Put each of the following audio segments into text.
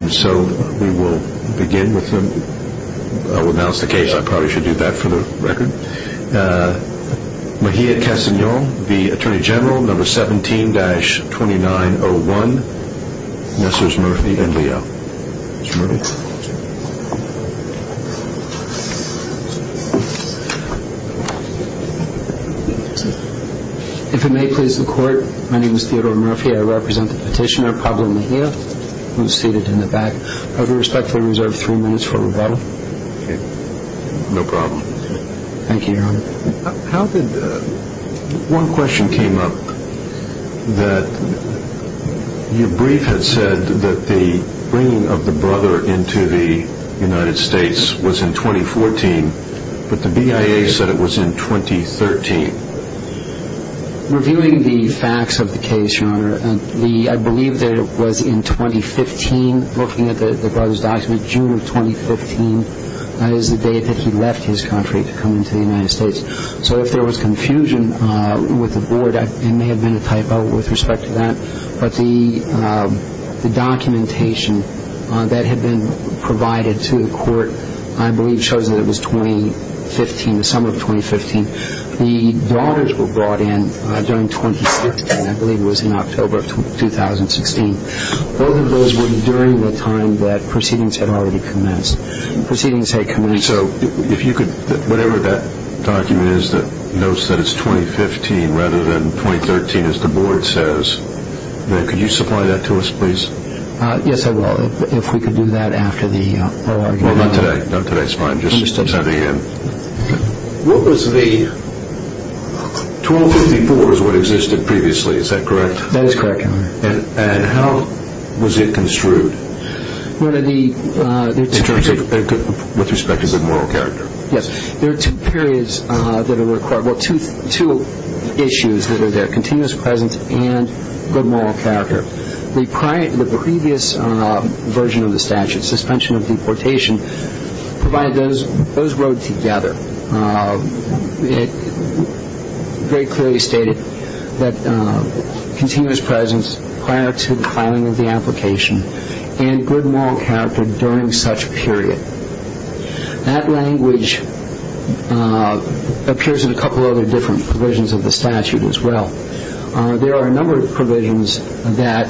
Number 17-2901 Messrs. Murphy and Leo If it may please the court, my name is Theodore Murphy, I represent the petitioner Pablo Mejia who is seated in the back. I would respectfully reserve three minutes for rebuttal. No problem. Thank you, Your Honor. One question came up that your brief had said that the bringing of the brother into the United States was in 2014, but the BIA said it was in 2013. Reviewing the facts of the case, Your Honor, I believe that it was in 2015, looking at the brother's document, June of 2015, that is the day that he left his country to come into the United States. So if there was confusion with the board, it may have been a typo with respect to that, but the documentation that had been provided to the court, I believe shows that it was 2015, the summer of 2015. The daughters were brought in during 2015, I believe it was in October of 2016. Both of those were during the time that proceedings had already commenced. Proceedings had commenced. So if you could, whatever that document is that notes that it's 2015 rather than 2013, as the board says, could you supply that to us, please? Yes, I will, if we could do that after the argument. Well, not today. Not today is fine. Just at the end. What was the 1254 is what existed previously, is that correct? That is correct, Your Honor. And how was it construed? In terms of with respect to good moral character? Yes. There are two periods that are required, well, two issues that are there, continuous presence and good moral character. The previous version of the statute, suspension of deportation, provided those both together. It very clearly stated that continuous presence prior to the filing of the application and good moral character during such a period. That language appears in a couple of other different provisions of the statute as well. There are a number of provisions that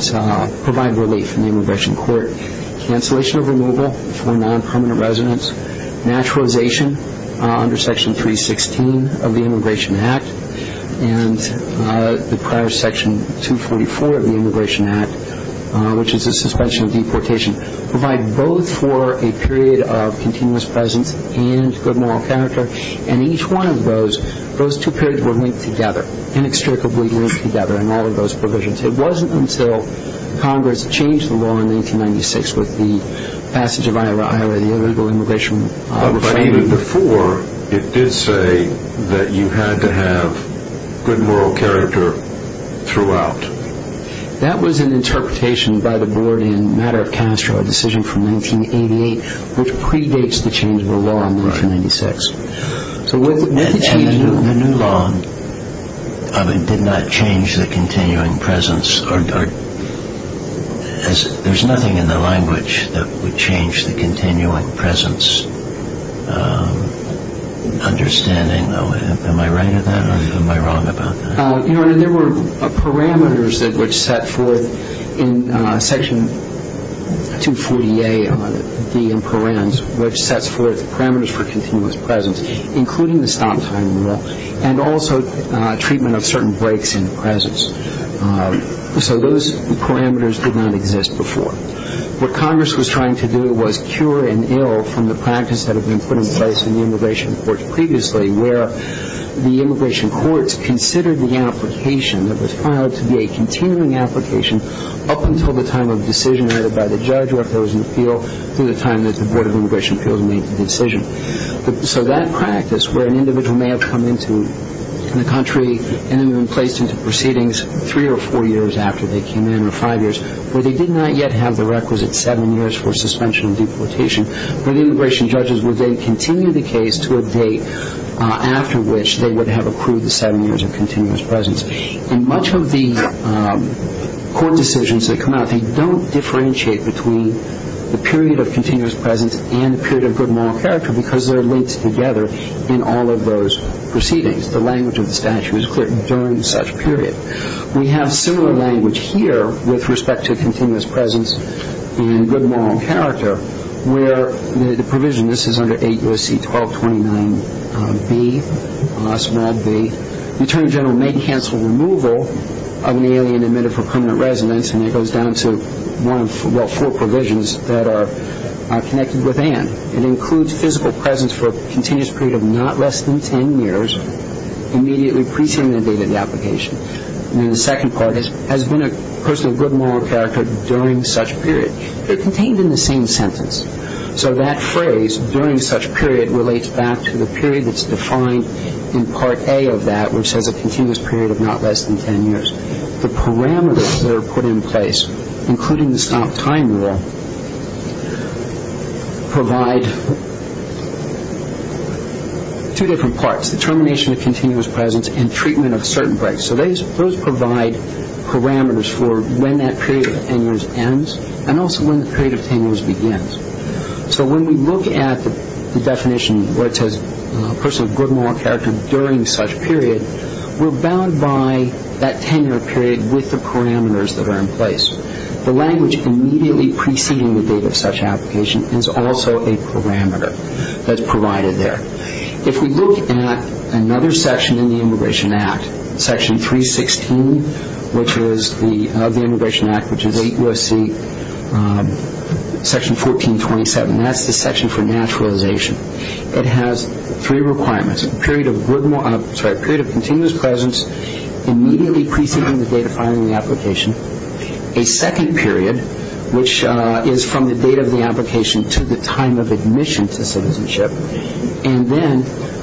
provide relief in the immigration court. Cancellation of removal for non-permanent residents, naturalization under Section 316 of the Immigration Act, and the prior Section 244 of the Immigration Act, which is the suspension of deportation, provide both for a period of continuous presence and good moral character. And each one of those, those two periods were linked together, inextricably linked together in all of those provisions. It wasn't until Congress changed the law in 1996 with the passage of Iowa, the illegal immigration reframing. But even before, it did say that you had to have good moral character throughout. That was an interpretation by the board in Matter of Castro, a decision from 1988, which predates the change of the law in 1996. And the new law did not change the continuing presence. There's nothing in the language that would change the continuing presence understanding. Am I right in that or am I wrong about that? Your Honor, there were parameters which set forth in Section 240A, D and Parens, which sets forth parameters for continuous presence, including the stop time rule, and also treatment of certain breaks in presence. So those parameters did not exist before. What Congress was trying to do was cure an ill from the practice that had been put in place in the immigration courts previously, where the immigration courts considered the application that was filed to be a continuing application up until the time of decision by the judge or if there was an appeal through the time that the Board of Immigration Appeals made the decision. So that practice, where an individual may have come into the country and then been placed into proceedings three or four years after they came in, or five years, where they did not yet have the requisite seven years for suspension and deportation, where the immigration judges would then continue the case to a date after which they would have approved the seven years of continuous presence. And much of the court decisions that come out, I think, don't differentiate between the period of continuous presence and the period of good moral character because they're linked together in all of those proceedings. The language of the statute is clear during such period. We have similar language here with respect to continuous presence and good moral character, where the provision, this is under 8 U.S.C. 1229b, the Attorney General may cancel removal of an alien admitted for permanent residence, and it goes down to one of, well, four provisions that are connected with and. It includes physical presence for a continuous period of not less than ten years, immediately pre-segmented date of the application. And then the second part is, has been a person of good moral character during such period. They're contained in the same sentence. So that phrase, during such period, relates back to the period that's defined in Part A of that, which says a continuous period of not less than ten years. The parameters that are put in place, including the stop time rule, provide two different parts, the termination of continuous presence and treatment of certain breaks. So those provide parameters for when that period of ten years ends and also when the period of ten years begins. So when we look at the definition where it says a person of good moral character during such period, we're bound by that ten-year period with the parameters that are in place. The language immediately preceding the date of such application is also a parameter that's provided there. If we look at another section in the Immigration Act, Section 316 of the Immigration Act, which is 8 U.S.C. Section 1427, that's the section for naturalization. It has three requirements, a period of continuous presence, immediately preceding the date of filing the application, a second period, which is from the date of the application to the time of admission to citizenship, and then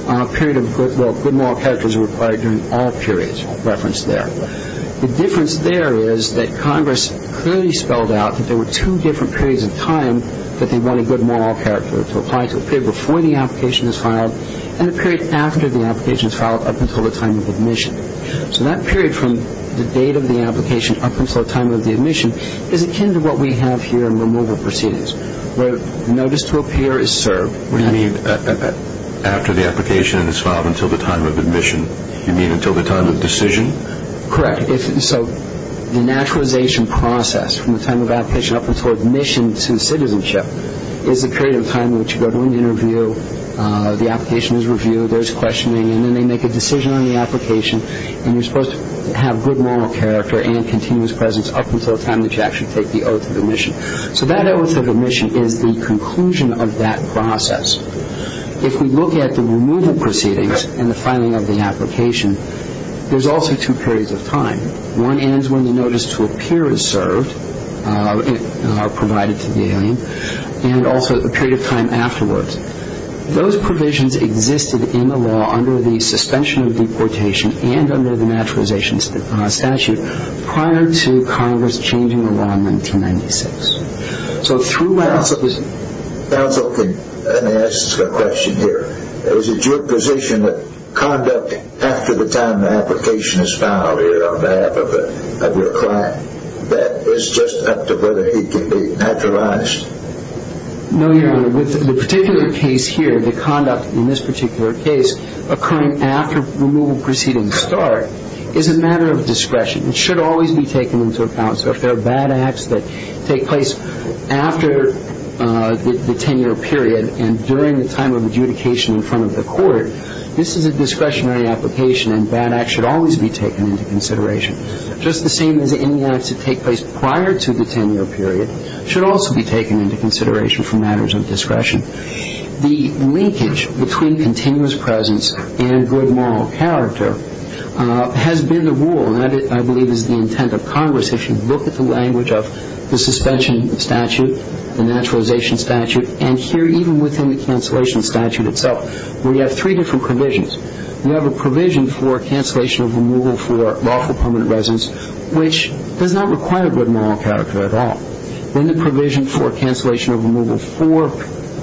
a period of good moral character is required during all periods referenced there. The difference there is that Congress clearly spelled out that there were two different periods of time that they wanted good moral character to apply to, a period before the application is filed and a period after the application is filed up until the time of admission. So that period from the date of the application up until the time of the admission is akin to what we have here in removal proceedings, where notice to appear is served. What do you mean after the application is filed until the time of admission? You mean until the time of decision? Correct. So the naturalization process from the time of application up until admission to citizenship is a period of time in which you go to an interview, the application is reviewed, there's questioning, and then they make a decision on the application, and you're supposed to have good moral character and continuous presence up until the time that you actually take the oath of admission. So that oath of admission is the conclusion of that process. If we look at the removal proceedings and the filing of the application, there's also two periods of time. One ends when the notice to appear is served, provided to the alien, and also a period of time afterwards. Those provisions existed in the law under the suspension of deportation and under the naturalization statute prior to Congress changing the law in 1996. So through that... Counsel, let me ask a question here. Is it your position that conduct after the time the application is filed, on behalf of your client, that it's just up to whether he can be naturalized? No, Your Honor. With the particular case here, the conduct in this particular case, occurring after removal proceedings start, is a matter of discretion. It should always be taken into account. So if there are bad acts that take place after the 10-year period and during the time of adjudication in front of the court, this is a discretionary application, and bad acts should always be taken into consideration. Just the same as any acts that take place prior to the 10-year period should also be taken into consideration for matters of discretion. The linkage between continuous presence and good moral character has been the rule, and that, I believe, is the intent of Congress. If you look at the language of the suspension statute, the naturalization statute, and here even within the cancellation statute itself, we have three different provisions. We have a provision for cancellation of removal for lawful permanent residence, which does not require good moral character at all. Then the provision for cancellation of removal for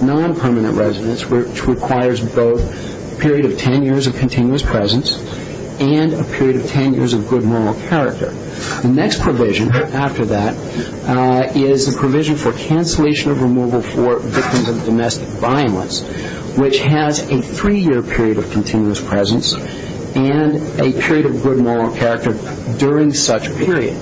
non-permanent residence, which requires both a period of 10 years of continuous presence and a period of 10 years of good moral character. The next provision after that is a provision for cancellation of removal for victims of domestic violence, which has a three-year period of continuous presence and a period of good moral character during such a period.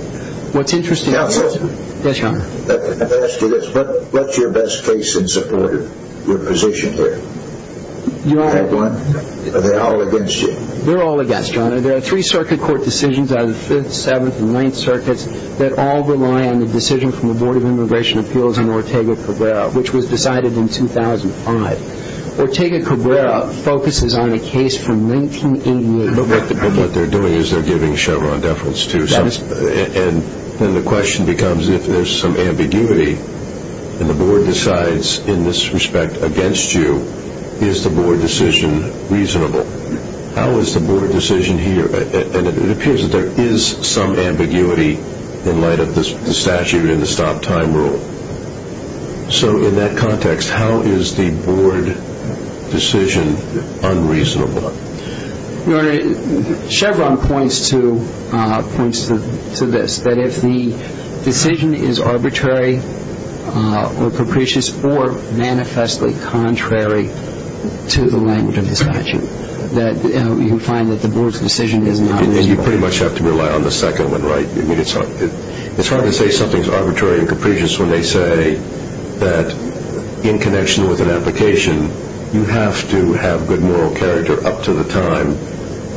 Counsel? Yes, Your Honor. Let me ask you this. What's your best case in support of your position here? Do you have one? Are they all against you? They're all against, Your Honor. There are three circuit court decisions out of the Fifth, Seventh, and Ninth Circuits that all rely on the decision from the Board of Immigration Appeals on Ortega-Cabrera, which was decided in 2005. Ortega-Cabrera focuses on a case from 1988. But what they're doing is they're giving Chevron deference, too. And then the question becomes if there's some ambiguity and the Board decides in this respect against you, is the Board decision reasonable? How is the Board decision here? And it appears that there is some ambiguity in light of the statute and the stop-time rule. So in that context, how is the Board decision unreasonable? Your Honor, Chevron points to this, that if the decision is arbitrary or capricious or manifestly contrary to the language of the statute, that you find that the Board's decision is not reasonable. And you pretty much have to rely on the second one, right? I mean, it's hard to say something's arbitrary and capricious when they say that in connection with an application, you have to have good moral character up to the time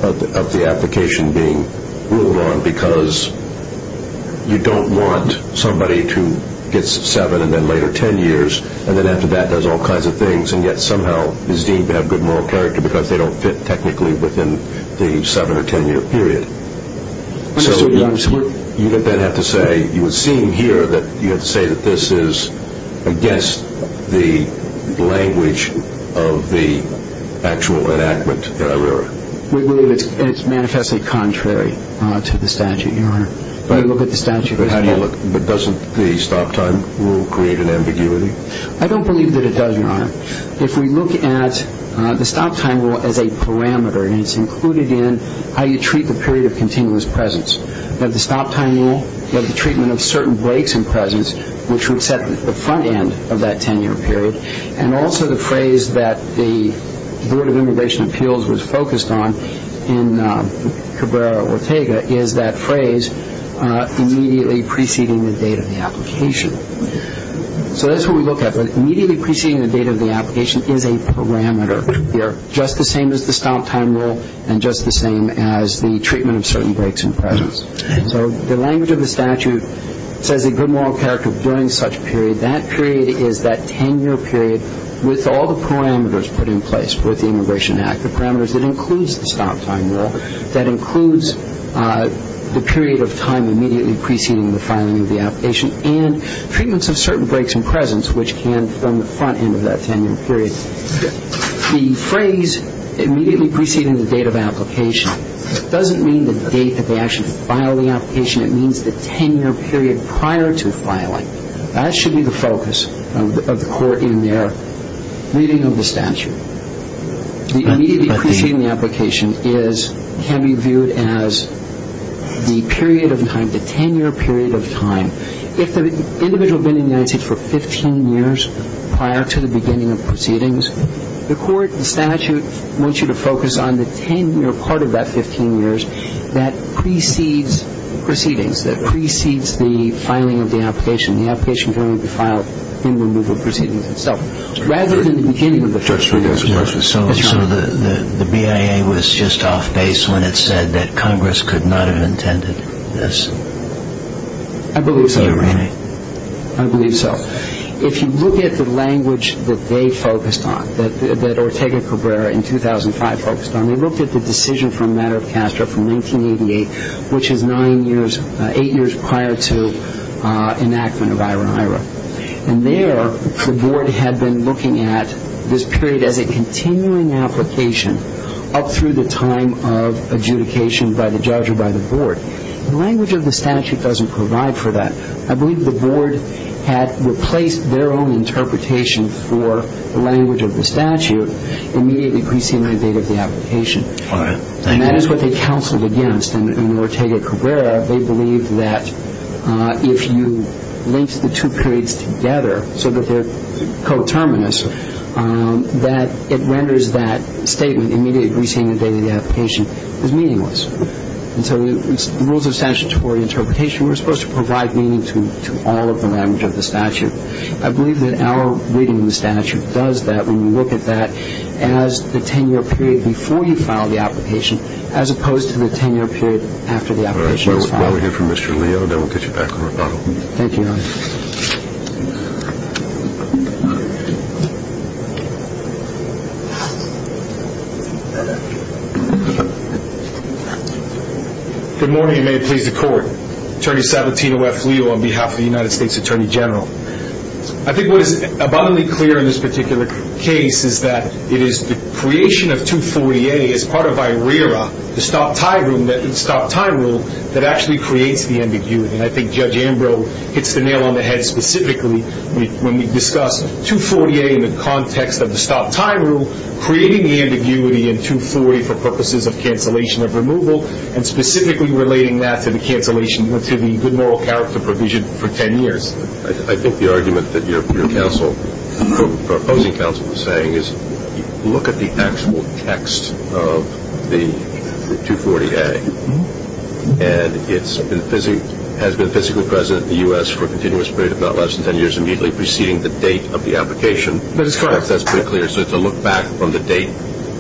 of the application being ruled on because you don't want somebody to get seven and then later ten years and then after that does all kinds of things and yet somehow is deemed to have good moral character because they don't fit technically within the seven- or ten-year period. So you would then have to say, you would seem here that you have to say that this is against the language of the actual enactment that I read. We believe it's manifestly contrary to the statute, Your Honor. When you look at the statute... But doesn't the stop-time rule create an ambiguity? I don't believe that it does, Your Honor. If we look at the stop-time rule as a parameter, and it's included in how you treat the period of continuous presence. You have the stop-time rule. You have the treatment of certain breaks in presence, which would set the front end of that ten-year period. And also the phrase that the Board of Immigration Appeals was focused on in Cabrera-Ortega is that phrase, immediately preceding the date of the application. So that's what we look at. But immediately preceding the date of the application is a parameter. They are just the same as the stop-time rule and just the same as the treatment of certain breaks in presence. So the language of the statute says a good moral character during such a period. That period is that ten-year period with all the parameters put in place with the Immigration Act, the parameters that includes the stop-time rule, that includes the period of time immediately preceding the filing of the application, and treatments of certain breaks in presence, which can form the front end of that ten-year period. The phrase, immediately preceding the date of application, doesn't mean the date that they actually file the application. It means the ten-year period prior to filing. That should be the focus of the court in their reading of the statute. The immediately preceding the application can be viewed as the period of time, the ten-year period of time. If the individual had been in the United States for 15 years prior to the beginning of proceedings, the court, the statute, wants you to focus on the ten-year part of that 15 years that precedes proceedings, that precedes the filing of the application. The application can only be filed in the removal of proceedings itself. Rather than the beginning of the first three years. So the BIA was just off base when it said that Congress could not have intended this? I believe so, Your Honor. I believe so. If you look at the language that they focused on, that Ortega Cabrera in 2005 focused on, they looked at the decision for a matter of Castro from 1988, which is nine years, eight years prior to enactment of IRA-IRA. And there, the board had been looking at this period as a continuing application up through the time of adjudication by the judge or by the board. The language of the statute doesn't provide for that. I believe the board had replaced their own interpretation for the language of the statute immediately preceding the date of the application. And that is what they counseled against. In Ortega Cabrera, they believed that if you linked the two periods together so that they're coterminous, that it renders that statement immediately preceding the date of the application as meaningless. And so the rules of statutory interpretation were supposed to provide meaning to all of the language of the statute. I believe that our reading of the statute does that when you look at that as the 10-year period before you file the application as opposed to the 10-year period after the application is filed. All right. Well, we'll hear from Mr. Leo, and then we'll get you back on rebuttal. Thank you, Your Honor. Good morning, and may it please the Court. Attorney Sabatino F. Leo on behalf of the United States Attorney General. I think what is abundantly clear in this particular case is that it is the creation of 240A as part of IRERA, the stop-time rule, that actually creates the ambiguity. And I think Judge Ambrose hits the nail on the head specifically when we discuss 240A in the context of the stop-time rule, creating the ambiguity in 240 for purposes of cancellation of removal, and specifically relating that to the cancellation or to the good moral character provision for 10 years. I think the argument that your counsel, your opposing counsel, is saying is look at the actual text of the 240A, and it has been physically present in the U.S. for a continuous period of not less than 10 years, immediately preceding the date of the application. That is correct. That's pretty clear. So it's a look back from the date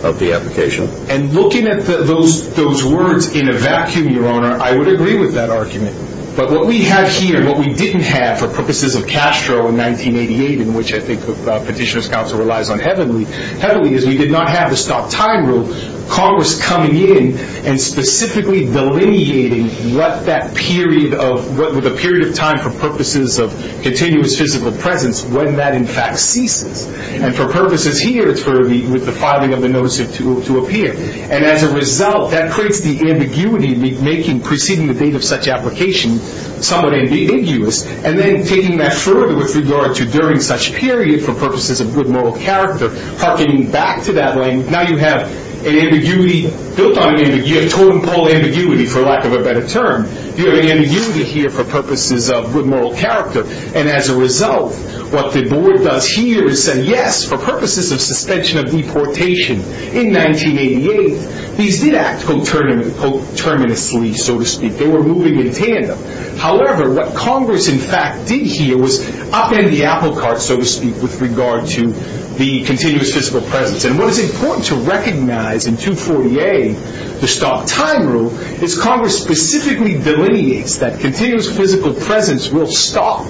of the application. And looking at those words in a vacuum, Your Honor, I would agree with that argument. But what we have here, what we didn't have for purposes of Castro in 1988, in which I think Petitioner's counsel relies on heavily, heavily is we did not have a stop-time rule. Congress coming in and specifically delineating what that period of time for purposes of continuous physical presence, when that in fact ceases. And for purposes here, it's with the filing of the notice to appear. And as a result, that creates the ambiguity preceding the date of such application, somewhat ambiguous. And then taking that further with regard to during such period for purposes of good moral character, harkening back to that language, now you have an ambiguity built on ambiguity, a totem pole ambiguity for lack of a better term. You have an ambiguity here for purposes of good moral character. And as a result, what the board does here is say, yes, for purposes of suspension of deportation in 1988, these did act coterminously, so to speak. They were moving in tandem. However, what Congress in fact did here was upend the apple cart, so to speak, with regard to the continuous physical presence. And what is important to recognize in 248, the stop-time rule, is Congress specifically delineates that continuous physical presence will stop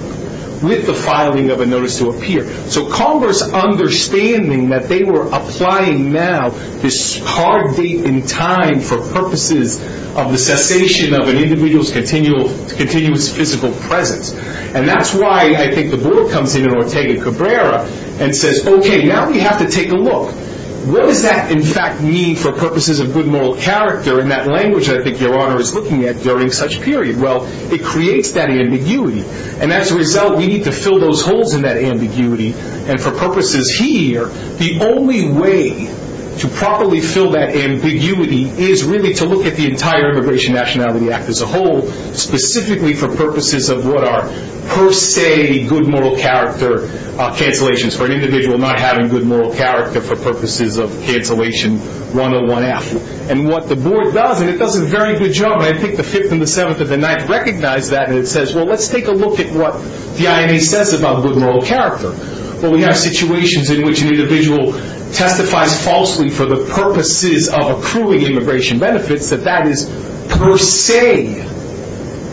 with the filing of a notice to appear. So Congress understanding that they were applying now this hard date in time for purposes of the cessation of an individual's continuous physical presence. And that's why I think the board comes in in Ortega Cabrera and says, okay, now we have to take a look. What does that in fact mean for purposes of good moral character in that language I think Your Honor is looking at during such period? Well, it creates that ambiguity. And as a result, we need to fill those holes in that ambiguity. And for purposes here, the only way to properly fill that ambiguity is really to look at the entire Immigration Nationality Act as a whole, specifically for purposes of what are per se good moral character cancellations for an individual not having good moral character for purposes of cancellation 101F. And what the board does, and it does a very good job, and I think the Fifth and the Seventh and the Ninth recognize that, and it says, well, let's take a look at what the INA says about good moral character. Well, we have situations in which an individual testifies falsely for the purposes of accruing immigration benefits, that that is per se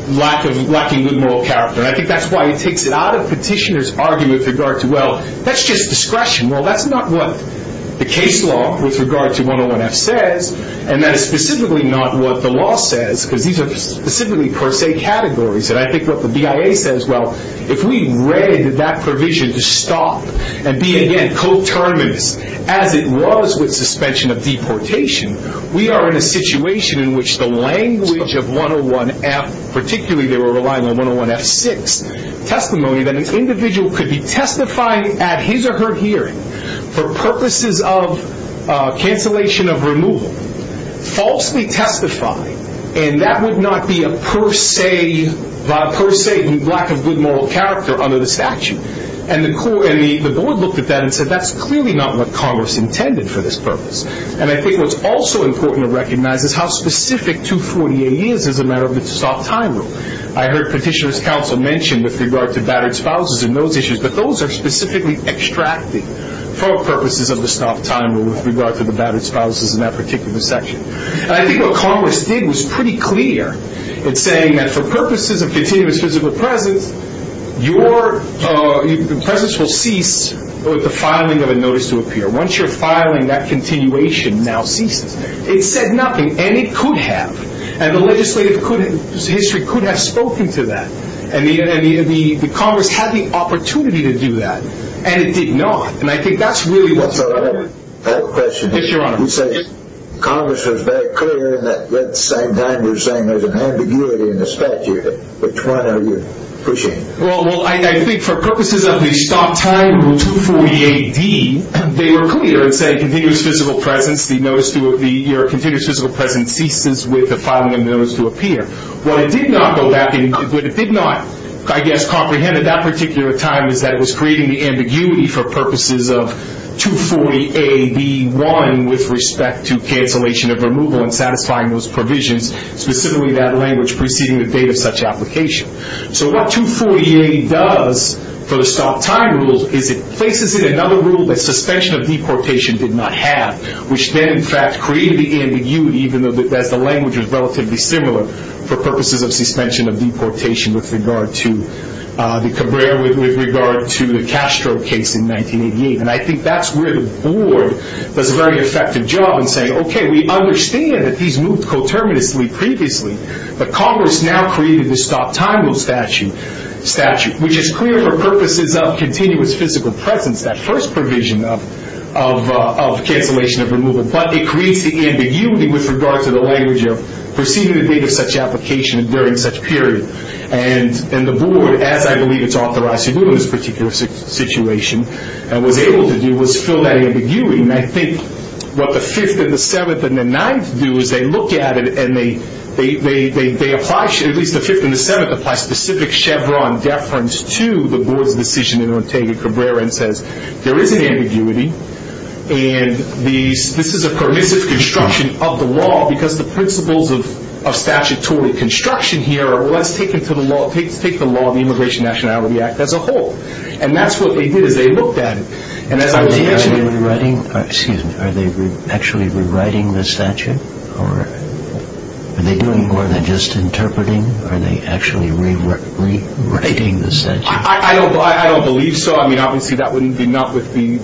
lacking good moral character. I think that's why it takes it out of petitioner's argument with regard to, well, that's just discretion. Well, that's not what the case law with regard to 101F says, and that is specifically not what the law says, because these are specifically per se categories. And I think what the BIA says, well, if we read that provision to stop and be, again, coterminous, as it was with suspension of deportation, we are in a situation in which the language of 101F, particularly they were relying on 101F6, testimony that an individual could be testifying at his or her hearing for purposes of cancellation of removal, falsely testify, and that would not be a per se, via per se, lack of good moral character under the statute. And the board looked at that and said, that's clearly not what Congress intended for this purpose. And I think what's also important to recognize is how specific 248 is as a matter of the stopped time rule. I heard petitioner's counsel mention with regard to battered spouses and those issues, but those are specifically extracted for purposes of the stopped time rule with regard to the battered spouses in that particular section. And I think what Congress did was pretty clear in saying that for purposes of continuous physical presence, your presence will cease with the filing of a notice to appear. Once you're filing, that continuation now ceases. It said nothing, and it could have, and the legislative history could have spoken to that. And the Congress had the opportunity to do that, and it did not. And I think that's really what's important. I have a question. Yes, Your Honor. Congress was very clear in that at the same time they were saying there was an ambiguity in the statute. Which one are you pushing? Well, I think for purposes of the stopped time rule, 248D, they were clear in saying continuous physical presence, your continuous physical presence ceases with the filing of a notice to appear. What it did not go back into, what it did not, I guess, comprehend at that particular time, is that it was creating the ambiguity for purposes of 240A, B1, with respect to cancellation of removal and satisfying those provisions, specifically that language preceding the date of such application. So what 240A does for the stopped time rule is it places it in another rule that suspension of deportation did not have, which then, in fact, created the ambiguity, even though the language was relatively similar, for purposes of suspension of deportation with regard to the Cabrera, with regard to the Castro case in 1988. And I think that's where the Board does a very effective job in saying, okay, we understand that these moved coterminously previously, but Congress now created the stopped time rule statute, which is clear for purposes of continuous physical presence, that first provision of cancellation of removal. But it creates the ambiguity with regard to the language of preceding the date of such application during such period. And the Board, as I believe it's authorized to do in this particular situation, and was able to do, was fill that ambiguity. And I think what the Fifth and the Seventh and the Ninth do is they look at it and they apply, at least the Fifth and the Seventh apply specific Chevron deference to the Board's decision in Ortega-Cabrera and says, there is an ambiguity and this is a permissive construction of the law because the principles of statutory construction here are, well, let's take the law of the Immigration and Nationality Act as a whole. And that's what they did is they looked at it. Excuse me, are they actually rewriting the statute? Or are they doing more than just interpreting? Are they actually rewriting the statute? I don't believe so. I mean, obviously, that wouldn't be not with the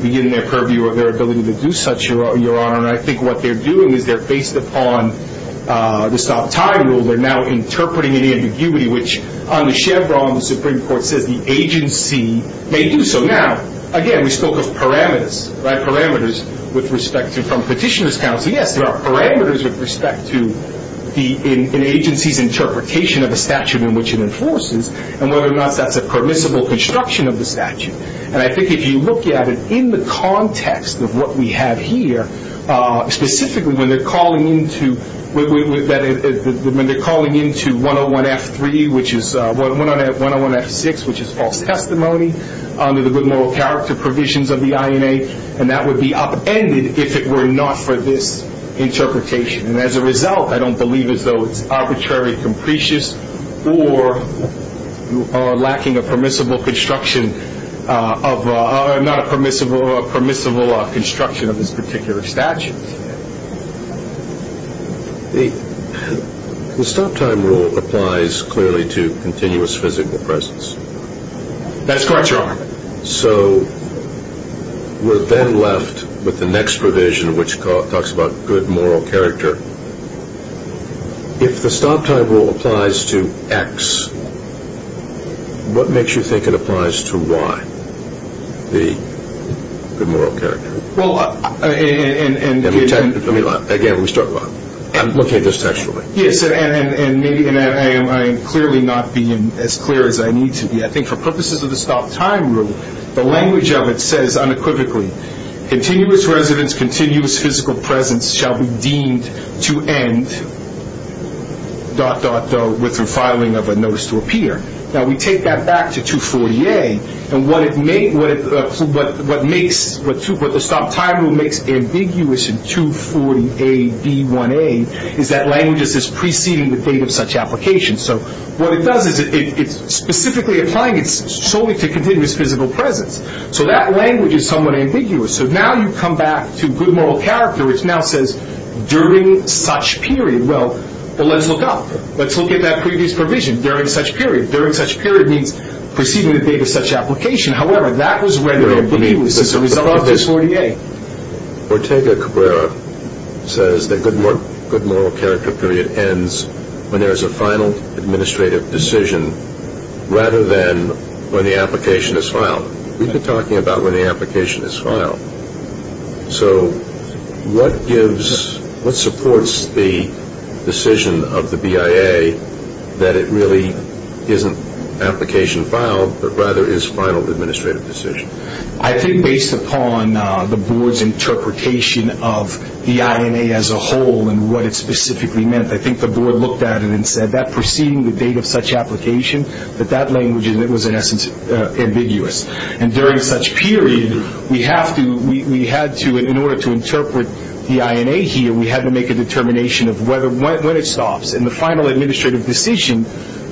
purview of their ability to do such, Your Honor. And I think what they're doing is they're based upon the stopped time rule. They're now interpreting an ambiguity, which on the Chevron, the Supreme Court says the agency may do so. Now, again, we spoke of parameters, right, parameters with respect to from petitioner's counsel. Yes, there are parameters with respect to an agency's interpretation of a statute in which it enforces and whether or not that's a permissible construction of the statute. And I think if you look at it in the context of what we have here, specifically when they're calling into 101F3, which is 101F6, which is false testimony, under the good moral character provisions of the INA, and that would be upended if it were not for this interpretation. And as a result, I don't believe as though it's arbitrary, capricious, or lacking a permissible construction of, not a permissible, a permissible construction of this particular statute. The stopped time rule applies clearly to continuous physical presence. That's correct, Your Honor. So we're then left with the next provision, which talks about good moral character. If the stopped time rule applies to X, what makes you think it applies to Y, the good moral character? Well, and... Let me, again, let me start. Locate this text for me. Yes, and I am clearly not being as clear as I need to be. I think for purposes of the stopped time rule, the language of it says unequivocally, continuous residence, continuous physical presence shall be deemed to end, dot, dot, dot, with refiling of a notice to appear. Now, we take that back to 240A, and what it makes, what the stopped time rule makes ambiguous in 240A, D1A, is that language that says preceding the date of such application. So what it does is it's specifically applying solely to continuous physical presence. So that language is somewhat ambiguous. So now you come back to good moral character, which now says during such period. Well, let's look up. Let's look at that previous provision, during such period. During such period means preceding the date of such application. However, that was where the ambiguity was as a result of 240A. Ortega-Cabrera says that good moral character period ends when there is a final administrative decision rather than when the application is filed. We've been talking about when the application is filed. So what gives, what supports the decision of the BIA that it really isn't application filed, but rather is final administrative decision? I think based upon the board's interpretation of the INA as a whole and what it specifically meant, I think the board looked at it and said that preceding the date of such application, that that language was in essence ambiguous. And during such period, we had to, in order to interpret the INA here, we had to make a determination of when it stops. And the final administrative decision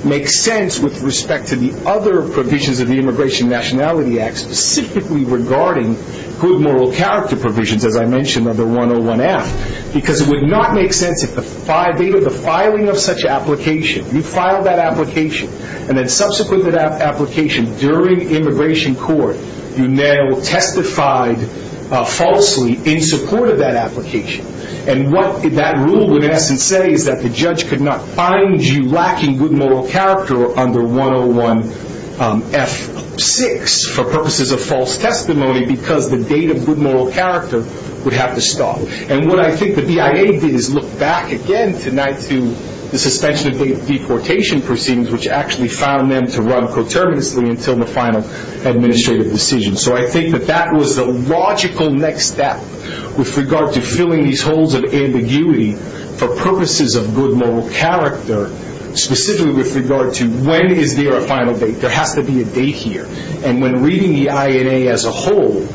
makes sense with respect to the other provisions of the Immigration Nationality Act specifically regarding good moral character provisions, as I mentioned, under 101F. Because it would not make sense if the filing of such application, you filed that application, and then subsequent to that application, during immigration court, you now testified falsely in support of that application. And what that rule would in essence say is that the judge could not find you lacking good moral character under 101F6 for purposes of false testimony because the date of good moral character would have to stop. And what I think the BIA did is look back again tonight to the suspension of deportation proceedings, which actually found them to run coterminously until the final administrative decision. So I think that that was the logical next step with regard to filling these holes of ambiguity for purposes of good moral character, specifically with regard to when is there a final date. There has to be a date here. And when reading the INA as a whole,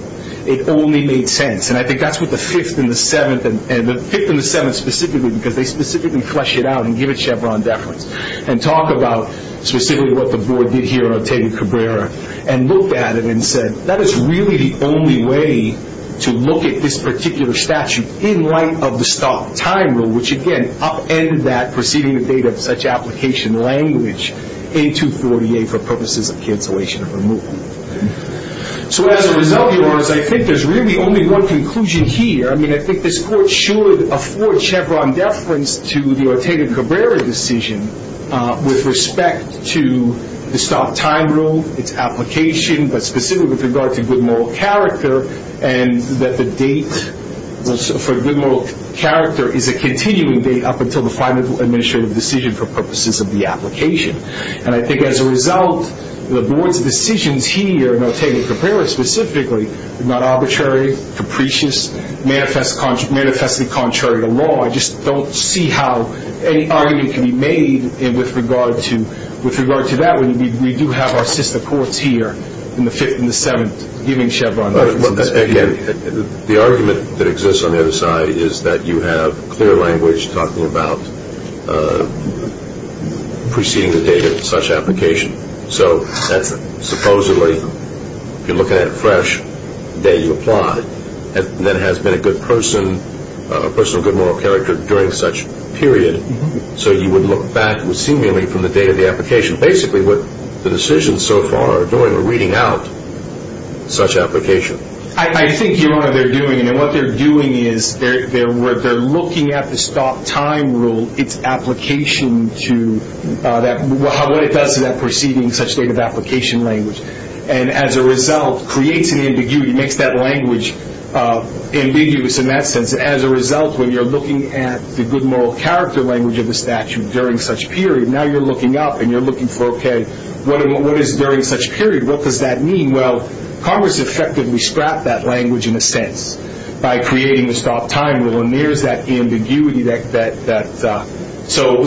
it only made sense. And I think that's what the Fifth and the Seventh specifically, because they specifically flesh it out and give it Chevron deference and talk about specifically what the board did here on Otayga-Cabrera and looked at it and said that is really the only way to look at this particular statute in light of the stop time rule, which again upended that proceeding in the date of such application language, A248, for purposes of cancellation of removal. So as a result of yours, I think there's really only one conclusion here. I mean, I think this court should afford Chevron deference to the Otayga-Cabrera decision with respect to the stop time rule, its application, but specifically with regard to good moral character and that the date for good moral character is a continuing date up until the final administrative decision for purposes of the application. And I think as a result, the board's decisions here in Otayga-Cabrera specifically are not arbitrary, capricious, manifestly contrary to law. I just don't see how any argument can be made with regard to that when we do have our sister courts here in the Fifth and the Seventh giving Chevron deference. Again, the argument that exists on the other side is that you have clear language talking about preceding the date of such application. So that's supposedly, if you're looking at it fresh, the day you apply, that has been a good person, a person of good moral character during such period, so you would look back seemingly from the date of the application. Basically, what the decisions so far are doing are reading out such application. I think you're right. They're doing it, and what they're doing is they're looking at the stop time rule, what it does to that preceding such date of application language, and as a result creates an ambiguity, makes that language ambiguous in that sense. As a result, when you're looking at the good moral character language of the statute during such period, now you're looking up and you're looking for, okay, what is during such period, what does that mean? Well, Congress effectively scrapped that language in a sense by creating the stop time rule, and there's that ambiguity.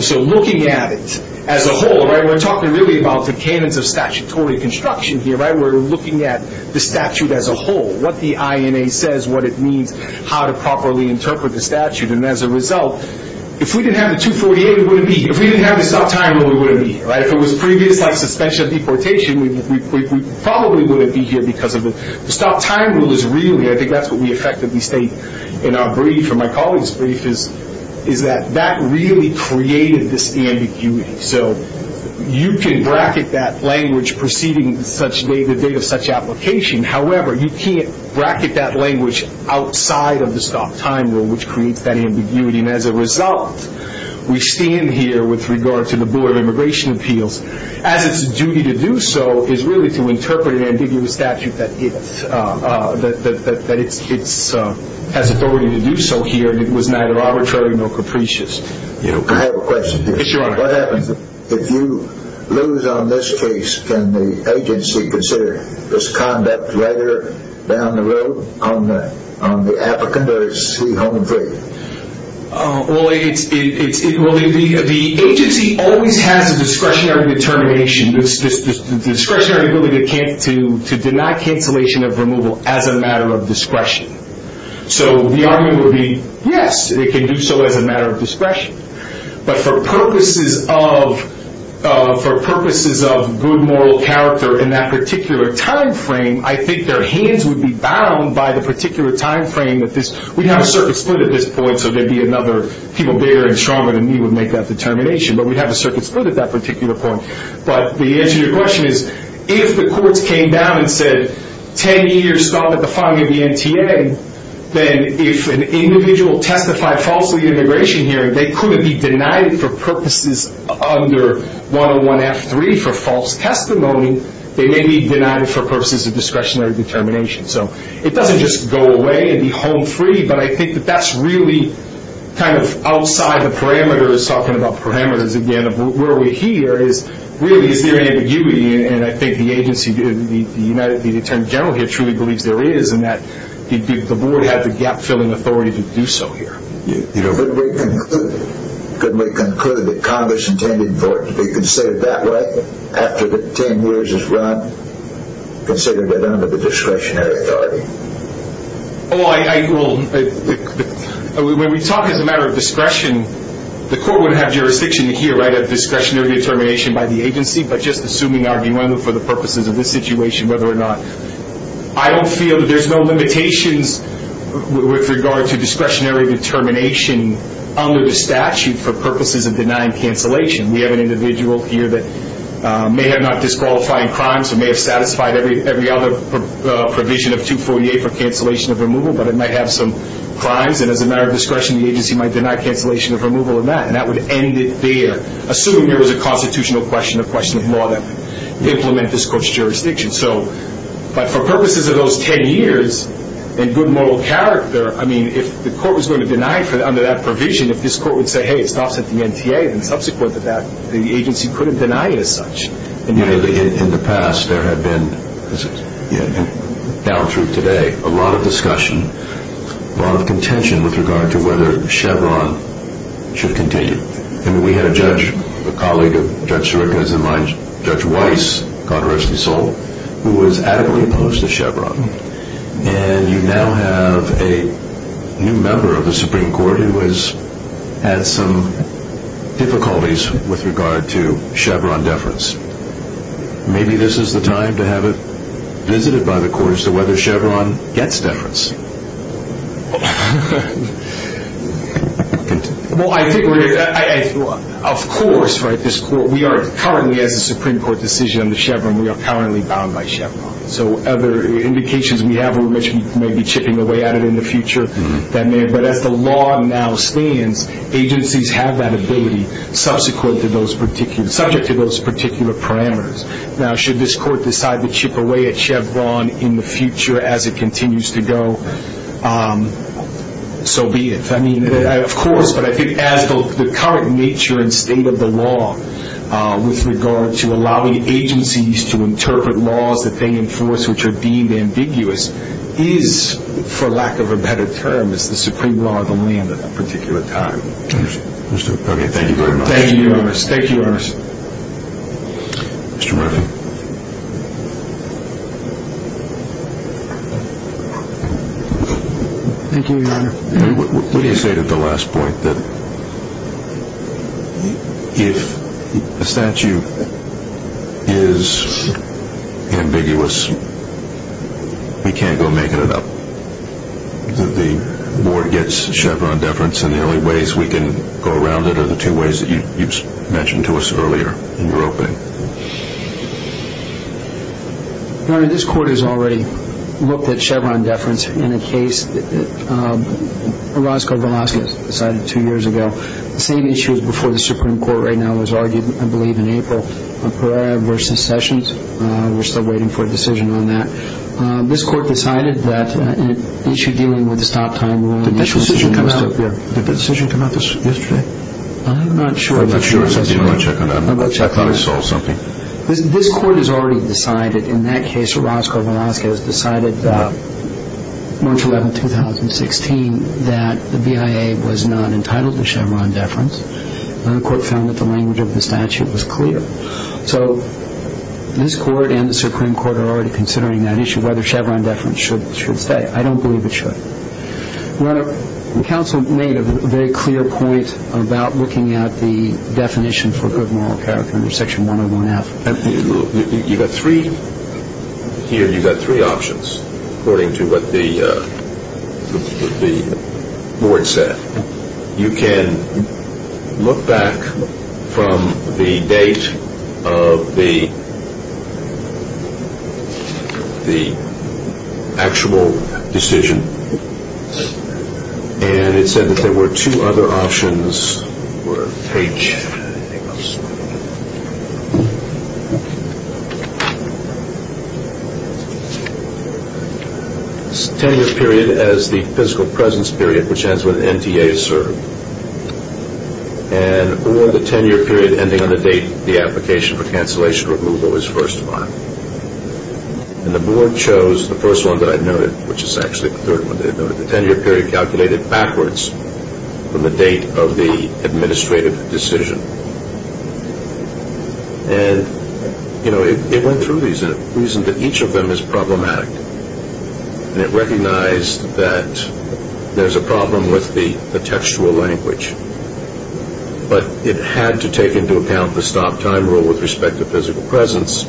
So looking at it as a whole, we're talking really about the canons of statutory construction here. We're looking at the statute as a whole, what the INA says, what it means, how to properly interpret the statute, and as a result, if we didn't have the 248, we wouldn't be here. If we didn't have the stop time rule, we wouldn't be here. If it was previous, like suspension of deportation, we probably wouldn't be here because of it. The stop time rule is really, I think that's what we effectively state in our brief or my colleague's brief, is that that really created this ambiguity. So you can bracket that language preceding the date of such application. However, you can't bracket that language outside of the stop time rule, which creates that ambiguity, and as a result, we stand here with regard to the Board of Immigration Appeals, as its duty to do so is really to interpret an ambiguous statute that it has authority to do so here, and it was neither arbitrary nor capricious. I have a question. Yes, Your Honor. What happens if you lose on this case, can the agency consider this conduct rather down the road on the applicant or is he home free? Well, the agency always has a discretionary determination, this discretionary ability to deny cancellation of removal as a matter of discretion. So the argument would be, yes, it can do so as a matter of discretion, but for purposes of good moral character in that particular time frame, I think their hands would be bound by the particular time frame. We'd have a circuit split at this point, so there'd be another people bigger and stronger than me would make that determination, but we'd have a circuit split at that particular point. But the answer to your question is, if the courts came down and said, 10 years stop at the filing of the NTA, then if an individual testified falsely at an immigration hearing, they couldn't be denied for purposes under 101F3 for false testimony. They may be denied for purposes of discretionary determination. So it doesn't just go away and be home free, but I think that that's really kind of outside the parameters, talking about parameters again of where we're here, is really is there ambiguity? And I think the agency, the attorney general here truly believes there is and that the board had the gap-filling authority to do so here. You know, couldn't we conclude that Congress intended for it to be considered that way after the 10 years is run, considered it under the discretionary authority? Oh, I will. When we talk as a matter of discretion, the court wouldn't have jurisdiction here, right, of discretionary determination by the agency, but just assuming argument for the purposes of this situation, whether or not. I don't feel that there's no limitations with regard to discretionary determination under the statute for purposes of denying cancellation. We have an individual here that may have not disqualifying crimes or may have satisfied every other provision of 248 for cancellation of removal, but it might have some crimes. And as a matter of discretion, the agency might deny cancellation of removal of that, and that would end it there, assuming there was a constitutional question or question of law that implemented this court's jurisdiction. But for purposes of those 10 years and good moral character, I mean, if the court was going to deny under that provision, if this court would say, hey, it stops at the NTA, then subsequent to that the agency couldn't deny it as such. In the past there have been, down through today, a lot of discussion, a lot of contention with regard to whether Chevron should continue. I mean, we had a judge, a colleague of Judge Sirica's and my, Judge Weiss, God rest his soul, who was adequately opposed to Chevron. And you now have a new member of the Supreme Court who has had some difficulties with regard to Chevron deference. Maybe this is the time to have it visited by the courts as to whether Chevron gets deference. Well, I think we're here. Of course, right, we are currently, as a Supreme Court decision on the Chevron, we are currently bound by Chevron. So other indications we have are we may be chipping away at it in the future. But as the law now stands, agencies have that ability, subject to those particular parameters. Now, should this court decide to chip away at Chevron in the future as it continues to go, so be it. I mean, of course, but I think as the current nature and state of the law with regard to allowing agencies to interpret laws that they enforce which are deemed ambiguous is, for lack of a better term, is the supreme law of the land at that particular time. Okay, thank you very much. Thank you, Your Honor. Thank you, Your Honor. Mr. Murphy. Thank you, Your Honor. What do you say to the last point, that if a statute is ambiguous, we can't go making it up, that the board gets Chevron deference and the only ways we can go around it are the two ways that you mentioned to us earlier in your opening? Your Honor, this court has already looked at Chevron deference in a case. Orozco-Velasquez decided two years ago. The same issue is before the Supreme Court right now was argued, I believe, in April. Pereira v. Sessions. We're still waiting for a decision on that. This court decided that an issue dealing with the stop time rule and the initial decision... Did that decision come out? Yeah. Did that decision come out yesterday? I'm not sure. I thought I saw something. This court has already decided, in that case Orozco-Velasquez decided March 11, 2016, that the BIA was not entitled to Chevron deference. The court found that the language of the statute was clear. So this court and the Supreme Court are already considering that issue, whether Chevron deference should stay. I don't believe it should. Your Honor, the counsel made a very clear point about looking at the definition for good moral character under Section 101F. You've got three options according to what the board said. You can look back from the date of the actual decision, and it said that there were two other options. There was a ten-year period as the physical presence period, which ends when NTA is served, and or the ten-year period ending on the date the application for cancellation or removal is first filed. And the board chose the first one that I noted, which is actually the third one they noted. The ten-year period calculated backwards from the date of the administrative decision. And, you know, it went through these, and it reasoned that each of them is problematic, and it recognized that there's a problem with the textual language. But it had to take into account the stop-time rule with respect to physical presence,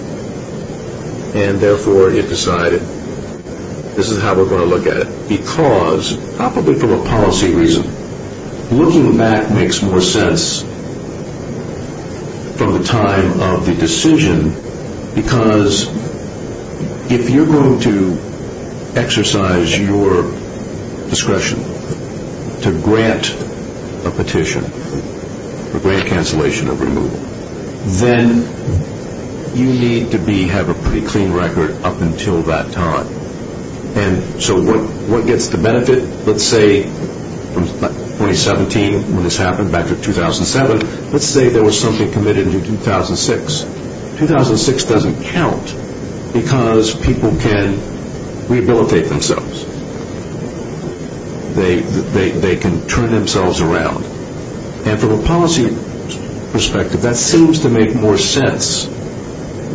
and therefore it decided this is how we're going to look at it. Because, probably for a policy reason, looking back makes more sense from the time of the decision, because if you're going to exercise your discretion to grant a petition for grant cancellation or removal, then you need to have a pretty clean record up until that time. And so what gets the benefit? Let's say 2017, when this happened, back to 2007. Let's say there was something committed in 2006. 2006 doesn't count because people can rehabilitate themselves. They can turn themselves around. And from a policy perspective, that seems to make more sense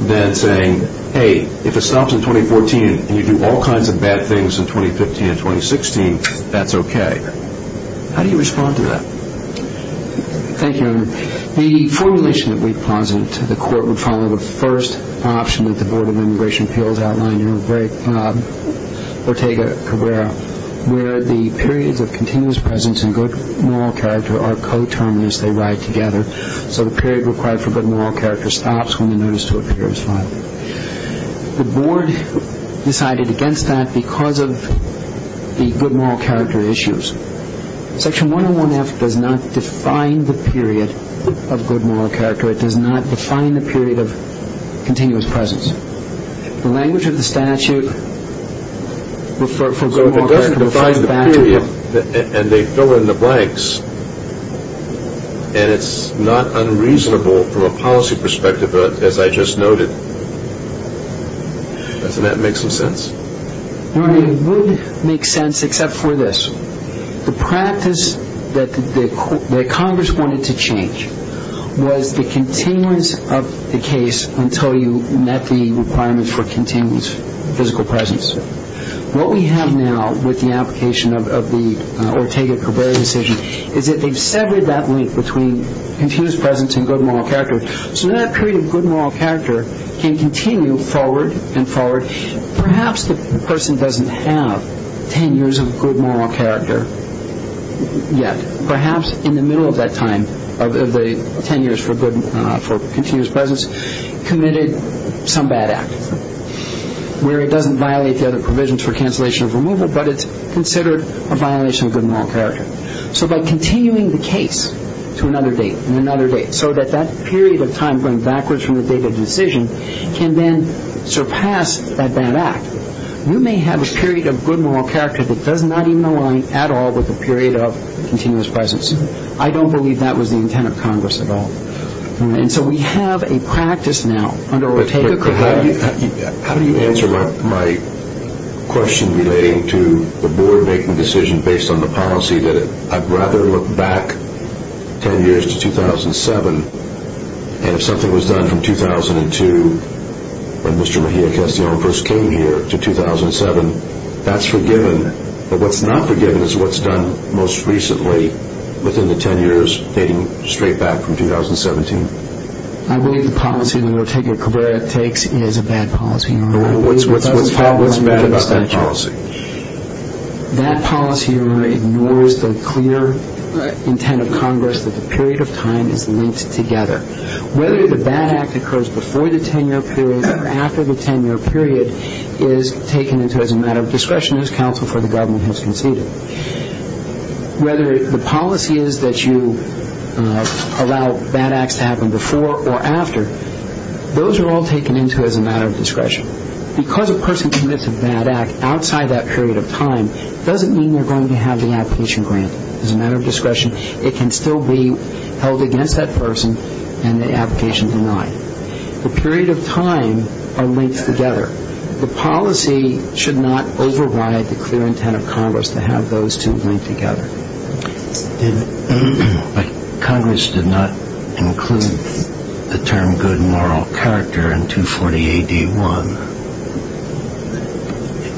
than saying, hey, if it stops in 2014 and you do all kinds of bad things in 2015 and 2016, that's okay. How do you respond to that? Thank you, Your Honor. The formulation that we posited to the court would follow the first option that the Board of Immigration Appeals outlined, Ortega-Cabrera, where the periods of continuous presence and good moral character are coterminous. They ride together. So the period required for good moral character stops when the notice to appear is filed. The Board decided against that because of the good moral character issues. Section 101F does not define the period of good moral character. It does not define the period of continuous presence. The language of the statute refers to good moral character. So if it doesn't define the period and they fill in the blanks, and it's not unreasonable from a policy perspective, as I just noted, doesn't that make some sense? Your Honor, it would make sense except for this. The practice that Congress wanted to change was the continuance of the case until you met the requirements for continuous physical presence. What we have now with the application of the Ortega-Cabrera decision is that they've severed that link between continuous presence and good moral character. So that period of good moral character can continue forward and forward. Perhaps the person doesn't have 10 years of good moral character yet. Perhaps in the middle of that time, of the 10 years for continuous presence, committed some bad act where it doesn't violate the other provisions for cancellation of removal, but it's considered a violation of good moral character. So by continuing the case to another date and another date so that that period of time going backwards from the date of decision can then surpass that bad act, you may have a period of good moral character that does not even align at all with a period of continuous presence. I don't believe that was the intent of Congress at all. And so we have a practice now under Ortega-Cabrera. How do you answer my question relating to the board making a decision based on the policy that I'd rather look back 10 years to 2007, and if something was done from 2002 when Mr. Mejia-Castillo first came here to 2007, that's forgiven. But what's not forgiven is what's done most recently within the 10 years dating straight back from 2017. I believe the policy that Ortega-Cabrera takes is a bad policy. What's bad about that policy? That policy ignores the clear intent of Congress that the period of time is linked together. Whether the bad act occurs before the 10-year period or after the 10-year period is taken into as a matter of discretion as counsel for the government has conceded. Whether the policy is that you allow bad acts to happen before or after, those are all taken into as a matter of discretion. Because a person commits a bad act outside that period of time doesn't mean they're going to have the application granted. As a matter of discretion, it can still be held against that person and the application denied. The period of time are linked together. The policy should not override the clear intent of Congress to have those two linked together. Congress did not include the term good moral character in 240 AD 1.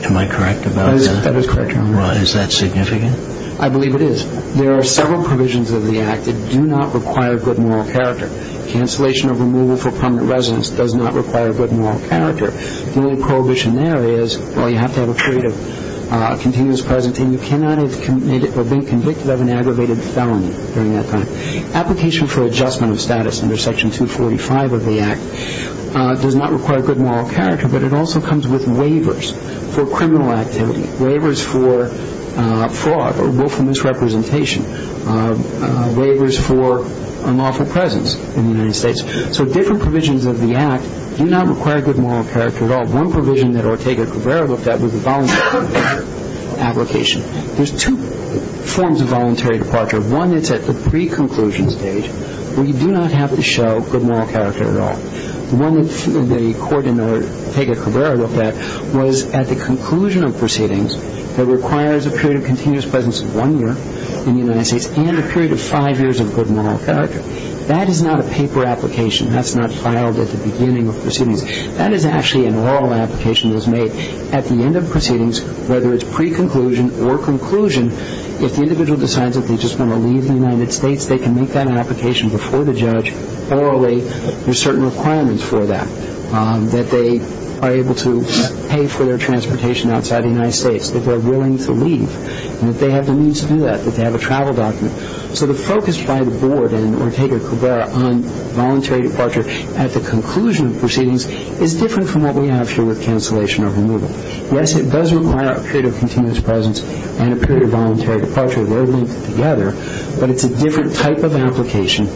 Am I correct about that? That is correct, Your Honor. Is that significant? I believe it is. There are several provisions of the act that do not require good moral character. Cancellation of removal for permanent residence does not require good moral character. The only prohibition there is, well, you have to have a period of continuous present and you cannot have been convicted of an aggravated felony during that time. Application for adjustment of status under Section 245 of the act does not require good moral character, but it also comes with waivers for criminal activity, waivers for fraud or willful misrepresentation, waivers for unlawful presence in the United States. So different provisions of the act do not require good moral character at all. One provision that Ortega-Cabrera looked at was a voluntary application. There's two forms of voluntary departure. One is at the pre-conclusion stage where you do not have to show good moral character at all. The one that the court in Ortega-Cabrera looked at was at the conclusion of proceedings that requires a period of continuous presence of one year in the United States and a period of five years of good moral character. That is not a paper application. That's not filed at the beginning of proceedings. That is actually an oral application that is made at the end of proceedings, whether it's pre-conclusion or conclusion. If the individual decides that they just want to leave the United States, they can make that application before the judge orally. There are certain requirements for that, that they are able to pay for their transportation outside the United States, that they're willing to leave, and that they have the means to do that, that they have a travel document. So the focus by the board in Ortega-Cabrera on voluntary departure at the conclusion of proceedings is different from what we have here with cancellation or removal. Yes, it does require a period of continuous presence and a period of voluntary departure. They're linked together, but it's a different type of application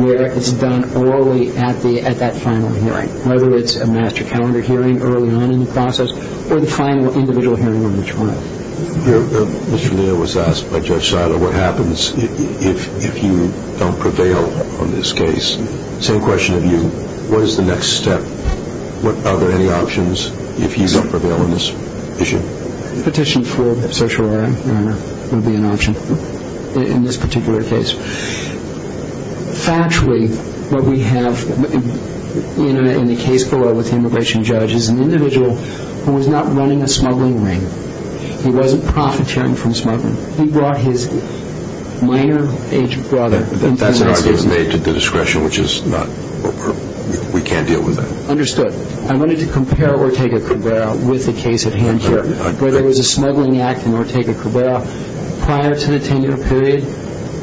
where it's done orally at that final hearing, whether it's a master calendar hearing early on in the process or the final individual hearing on the trial. Mr. Lear was asked by Judge Seiler what happens if you don't prevail on this case. Same question to you. What is the next step? Are there any options if you don't prevail on this issue? Petition for certiorari will be an option in this particular case. Factually, what we have in the case below with the immigration judge is an individual who was not running a smuggling ring. He wasn't profiteering from smuggling. He brought his minor age brother into the United States. He was made to discretion, which we can't deal with that. Understood. I wanted to compare Ortega-Cabrera with the case at hand here, where there was a smuggling act in Ortega-Cabrera prior to the 10-year period,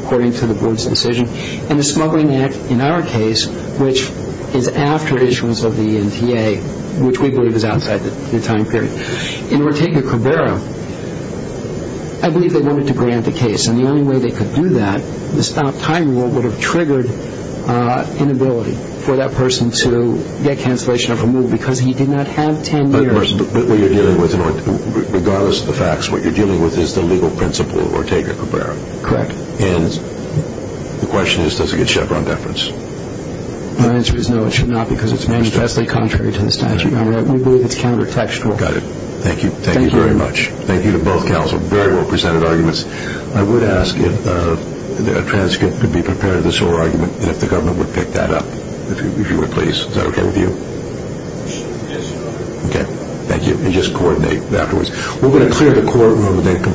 according to the board's decision, and a smuggling act in our case, which is after issuance of the NTA, which we believe is outside the time period. In Ortega-Cabrera, I believe they wanted to grant the case, and the only way they could do that, the stop-time rule would have triggered inability for that person to get cancellation of a move because he did not have 10 years. But what you're dealing with, regardless of the facts, what you're dealing with is the legal principle of Ortega-Cabrera. Correct. And the question is, does it get Chevron deference? My answer is no, it should not because it's manifestly contrary to the statute. We believe it's counter-textual. Got it. Thank you. Thank you very much. Thank you to both counsel. Very well presented arguments. I would ask if a transcript could be prepared of this whole argument, and if the government would pick that up, if you would please. Is that okay with you? Yes. Okay. Thank you. And just coordinate afterwards. We're going to clear the courtroom.